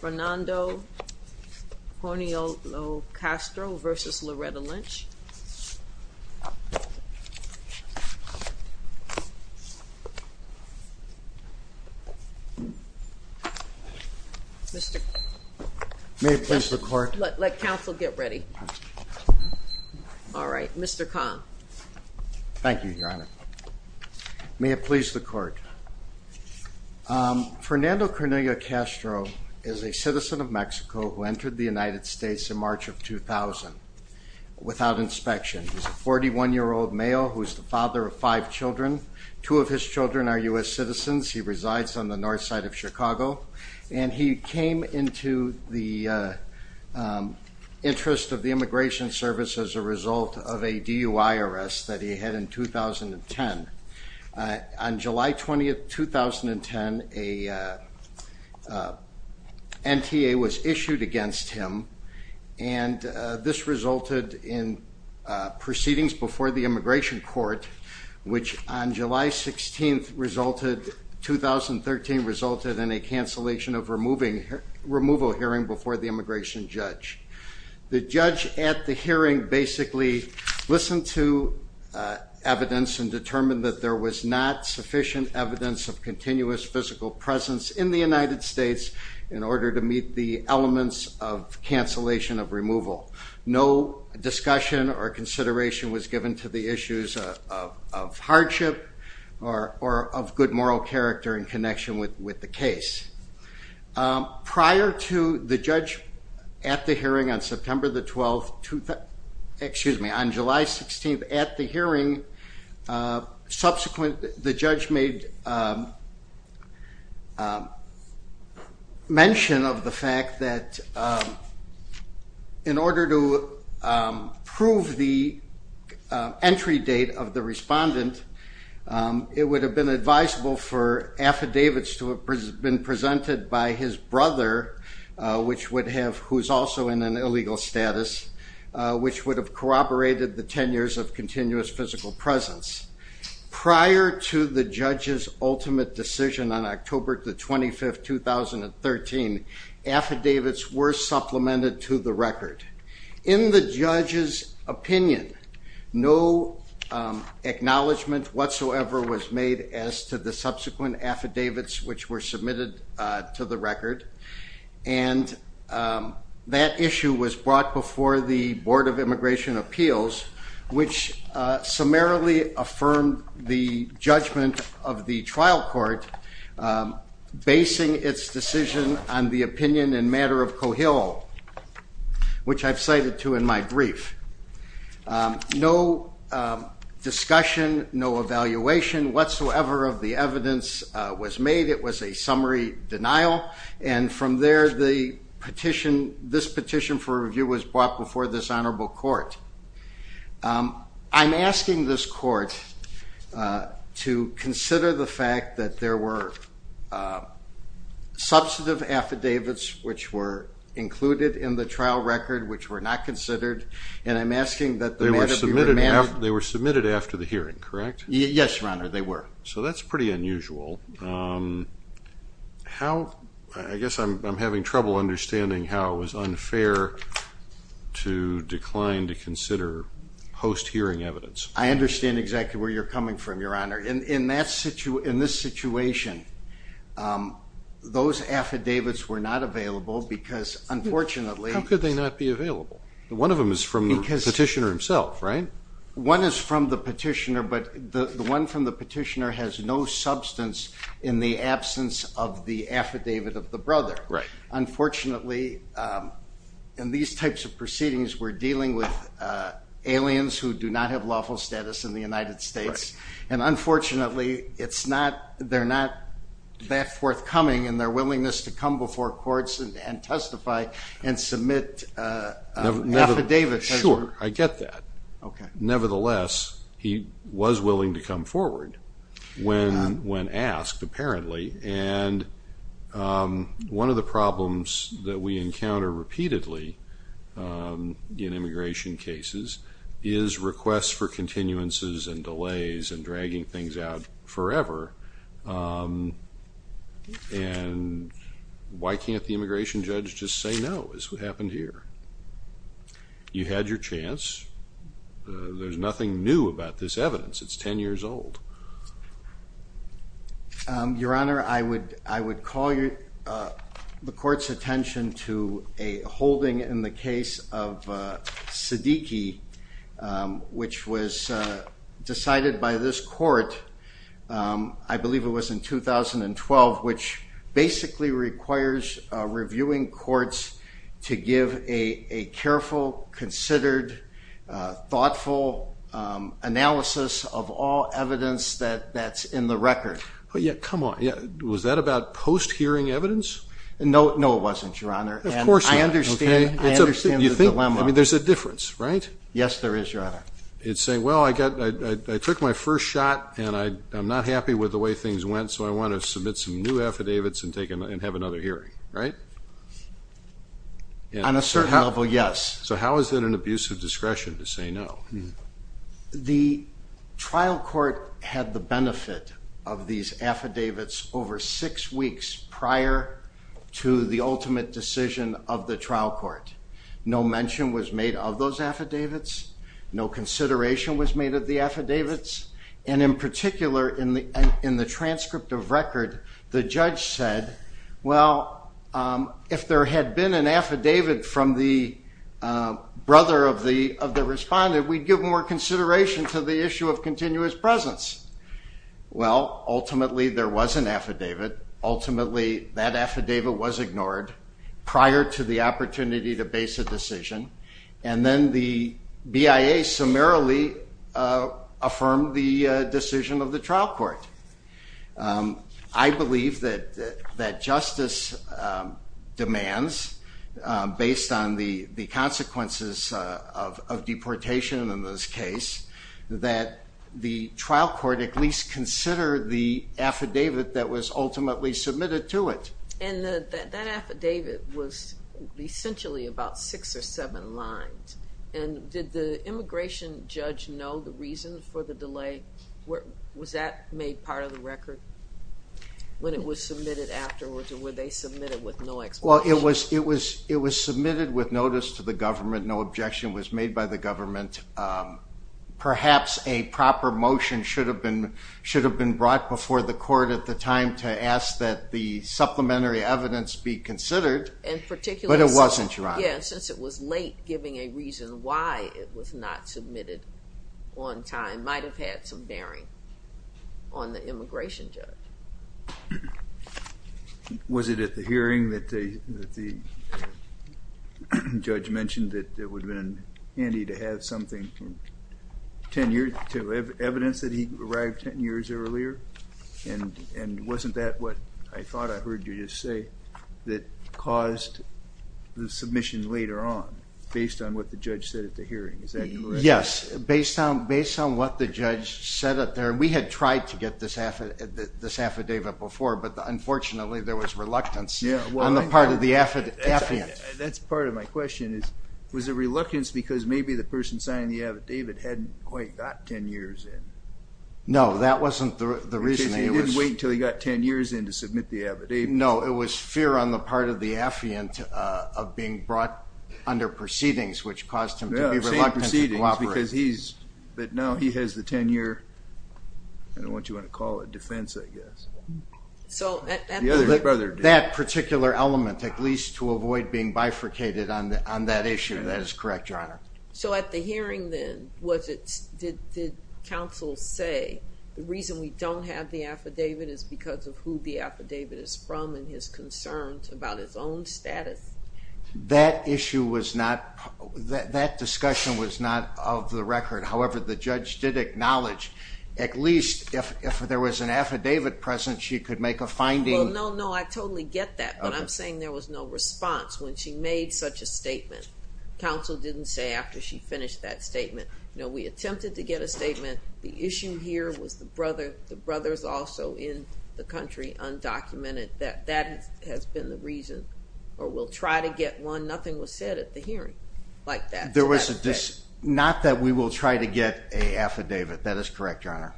Fernando Cornelio-Castro v. Loretta Lynch Let counsel get ready. All right, Mr. Kahn. Thank you, Your Honor. May it please the Court. Fernando Cornelio-Castro is a citizen of Mexico who entered the United States in March of 2000 without inspection. He's a 41-year-old male who is the father of five children. Two of his children are U.S. citizens. He resides on the north side of Chicago. And he came into the interest of the Immigration Service as a result of a DUI arrest that he had in 2010. On July 20, 2010, an NTA was issued against him, and this resulted in proceedings before the Immigration Court, which on July 16, 2013, resulted in a cancellation of removal hearing before the immigration judge. The judge at the hearing basically listened to evidence and determined that there was not sufficient evidence of continuous physical presence in the United States in order to meet the elements of cancellation of removal. No discussion or consideration was given to the issues of hardship or of good moral character in connection with the case. Prior to the judge at the hearing on September the 12th, excuse me, on July 16th at the hearing, the judge made mention of the fact that in order to prove the entry date of the respondent, it would have been advisable for affidavits to have been presented by his brother, who is also in an illegal status, which would have corroborated the 10 years of continuous physical presence. Prior to the judge's ultimate decision on October the 25th, 2013, affidavits were supplemented to the record. In the judge's opinion, no acknowledgment whatsoever was made as to the subsequent affidavits which were submitted to the record, and that issue was brought before the Board of Immigration Appeals, which summarily affirmed the judgment of the trial court, basing its decision on the opinion and matter of Cohill, which I've cited to in my brief. No discussion, no evaluation whatsoever of the evidence was made. It was a summary denial, and from there, this petition for review was brought before this honorable court. I'm asking this court to consider the fact that there were substantive affidavits which were included in the trial record, which were not considered, and I'm asking that the matter be remanded. They were submitted after the hearing, correct? Yes, Your Honor, they were. So that's pretty unusual. I guess I'm having trouble understanding how it was unfair to decline to consider post-hearing evidence. I understand exactly where you're coming from, Your Honor. In this situation, those affidavits were not available because, unfortunately... How could they not be available? One of them is from the petitioner himself, right? One is from the petitioner, but the one from the petitioner has no substance in the absence of the affidavit of the brother. Unfortunately, in these types of proceedings, we're dealing with aliens who do not have lawful status in the United States, and unfortunately, they're not that forthcoming in their willingness to come before courts and testify and submit an affidavit. Sure, I get that. Nevertheless, he was willing to come forward when asked, apparently, and one of the problems that we encounter repeatedly in immigration cases is requests for continuances and delays and dragging things out forever, and why can't the immigration judge just say no is what happened here? You had your chance. There's nothing new about this evidence. It's 10 years old. Your Honor, I would call the Court's attention to a holding in the case of Siddiqi, which was decided by this Court, I believe it was in 2012, which basically requires reviewing courts to give a careful, considered, thoughtful analysis of all evidence that's in the record. Come on. Was that about post-hearing evidence? No, it wasn't, Your Honor. Of course not. I understand the dilemma. There's a difference, right? Yes, there is, Your Honor. It's saying, well, I took my first shot, and I'm not happy with the way things went, so I want to submit some new affidavits and have another hearing, right? On a certain level, yes. So how is that an abuse of discretion to say no? The trial court had the benefit of these affidavits over six weeks prior to the ultimate decision of the trial court. No mention was made of those affidavits. No consideration was made of the affidavits. And in particular, in the transcript of record, the judge said, well, if there had been an affidavit from the brother of the responder, we'd give more consideration to the issue of continuous presence. Well, ultimately, there was an affidavit. Ultimately, that affidavit was ignored prior to the opportunity to base a decision, and then the BIA summarily affirmed the decision of the trial court. I believe that justice demands, based on the consequences of deportation in this case, that the trial court at least consider the affidavit that was ultimately submitted to it. And that affidavit was essentially about six or seven lines. And did the immigration judge know the reason for the delay? Was that made part of the record when it was submitted afterwards, or were they submitted with no explanation? Well, it was submitted with notice to the government. No objection was made by the government. Perhaps a proper motion should have been brought before the court at the time to ask that the supplementary evidence be considered. But it wasn't, Your Honor. Yes, since it was late, giving a reason why it was not submitted on time might have had some bearing on the immigration judge. Was it at the hearing that the judge mentioned that it would have been handy to have something tenured to evidence that he arrived ten years earlier? And wasn't that what I thought I heard you just say, that caused the submission later on, based on what the judge said at the hearing? Is that correct? Yes, based on what the judge said up there. We had tried to get this affidavit before, but unfortunately there was reluctance on the part of the affiant. That's part of my question. Was it reluctance because maybe the person signing the affidavit hadn't quite got ten years in? No, that wasn't the reason. He didn't wait until he got ten years in to submit the affidavit. No, it was fear on the part of the affiant of being brought under proceedings, which caused him to be reluctant to cooperate. But now he has the tenure, I don't know what you want to call it, defense, I guess. That particular element, at least, to avoid being bifurcated on that issue. That is correct, Your Honor. So at the hearing then, did counsel say, the reason we don't have the affidavit is because of who the affidavit is from and his concerns about his own status? That issue was not, that discussion was not of the record. However, the judge did acknowledge, at least if there was an affidavit present she could make a finding. Well, no, no, I totally get that, but I'm saying there was no response when she made such a statement. Counsel didn't say after she finished that statement. No, we attempted to get a statement. The issue here was the brothers also in the country undocumented. That has been the reason, or we'll try to get one. Nothing was said at the hearing like that. Not that we will try to get an affidavit. That is correct, Your Honor.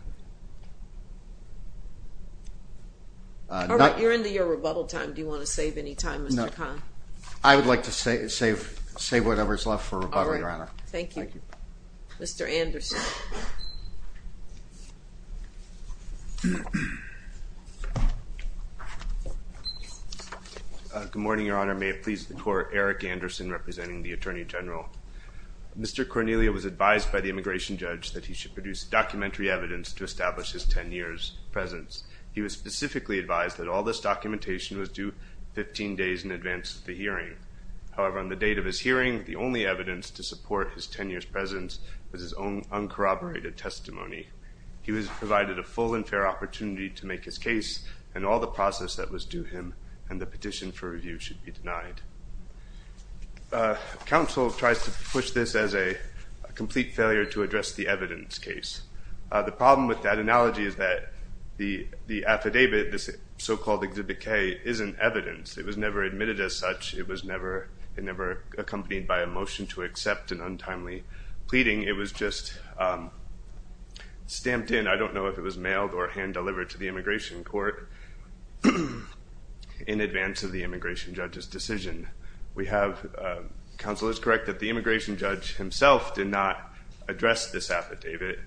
All right, you're into your rebuttal time. Do you want to save any time, Mr. Kahn? I would like to save whatever is left for rebuttal, Your Honor. All right, thank you. Mr. Anderson. Good morning, Your Honor. May it please the Court, Eric Anderson representing the Attorney General. Mr. Cornelia was advised by the immigration judge that he should produce documentary evidence to establish his 10 years' presence. He was specifically advised that all this documentation was due 15 days in advance of the hearing. However, on the date of his hearing, the only evidence to support his 10 years' presence was his own uncorroborated testimony. He was provided a full and fair opportunity to make his case, and all the process that was due him and the petition for review should be denied. Council tries to push this as a complete failure to address the evidence case. The problem with that analogy is that the affidavit, this so-called Exhibit K, isn't evidence. It was never admitted as such. It was never accompanied by a motion to accept an untimely pleading. It was just stamped in. I don't know if it was mailed or hand-delivered to the immigration court in advance of the immigration judge's decision. Council is correct that the immigration judge himself did not address this affidavit,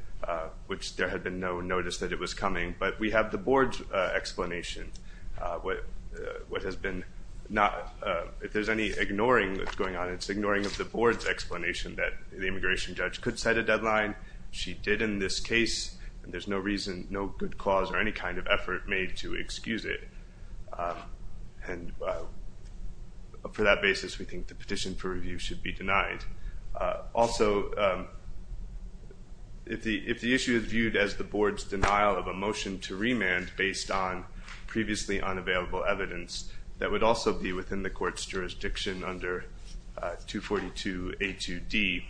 which there had been no notice that it was coming, but we have the board's explanation. If there's any ignoring that's going on, it's ignoring of the board's explanation that the immigration judge could set a deadline. She did in this case, and there's no reason, no good cause or any kind of effort made to excuse it. And for that basis, we think the petition for review should be denied. Also, if the issue is viewed as the board's denial of a motion to remand based on previously unavailable evidence that would also be within the court's jurisdiction under 242A2D,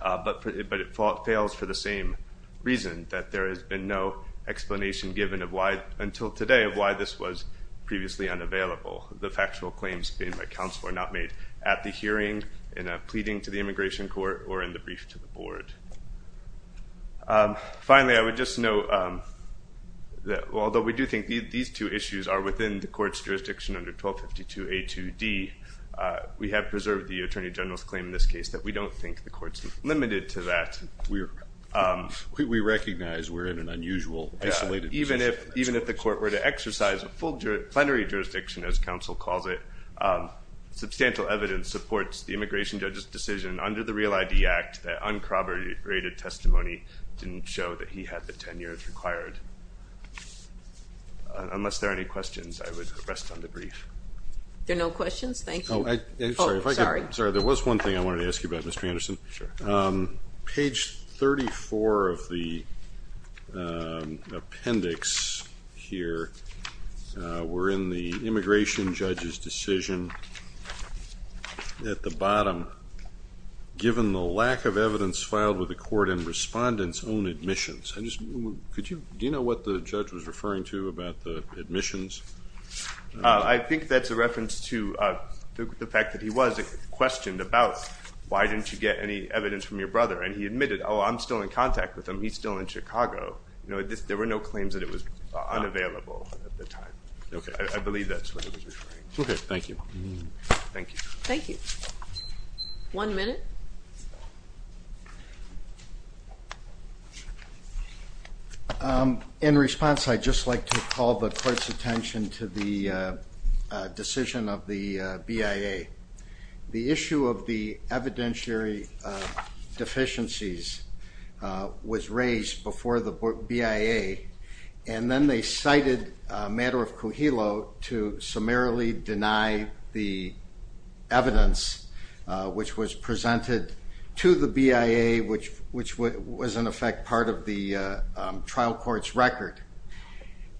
but it fails for the same reason, that there has been no explanation given of why, until today, of why this was previously unavailable. The factual claims made by council were not made at the hearing, in a pleading to the immigration court, or in the brief to the board. Finally, I would just note that although we do think these two issues are within the court's jurisdiction under 1252A2D, we have preserved the attorney general's claim in this case that we don't think the court's limited to that. We recognize we're in an unusual, isolated position. Even if the court were to exercise a full plenary jurisdiction, as council calls it, substantial evidence supports the immigration judge's decision under the Real ID Act that uncorroborated testimony didn't show that he had the 10 years required. Unless there are any questions, I would rest on the brief. There are no questions? Thank you. Sorry, there was one thing I wanted to ask you about, Mr. Anderson. Page 34 of the appendix here, we're in the immigration judge's decision at the bottom, given the lack of evidence filed with the court and respondents' own admissions. Do you know what the judge was referring to about the admissions? I think that's a reference to the fact that he was questioned about why didn't you get any evidence from your brother, and he admitted, oh, I'm still in contact with him. He's still in Chicago. There were no claims that it was unavailable at the time. I believe that's what he was referring to. Okay, thank you. Thank you. One minute. In response, I'd just like to call the court's attention to the decision of the BIA. The issue of the evidentiary deficiencies was raised before the BIA, and then they cited a matter of Cujillo to summarily deny the evidence which was presented to the BIA, which was, in effect, part of the trial court's record.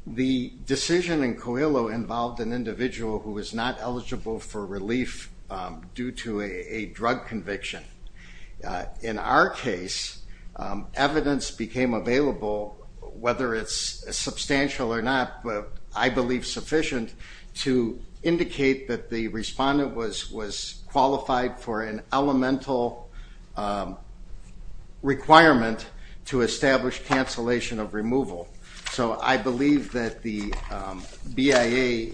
The decision in Cujillo involved an individual who was not eligible for relief due to a drug conviction. In our case, evidence became available, whether it's substantial or not, but I believe sufficient, to indicate that the respondent was qualified for an elemental requirement to establish cancellation of removal. So I believe that the BIA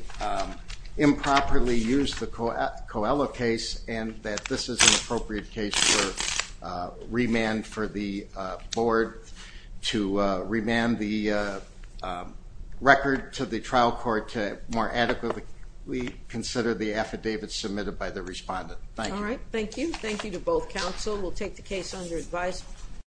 improperly used the Coelho case and that this is an appropriate case for remand for the board to remand the record to the trial court to more adequately consider the affidavit submitted by the respondent. Thank you. All right, thank you. Thank you to both counsel. We'll take the case under advice.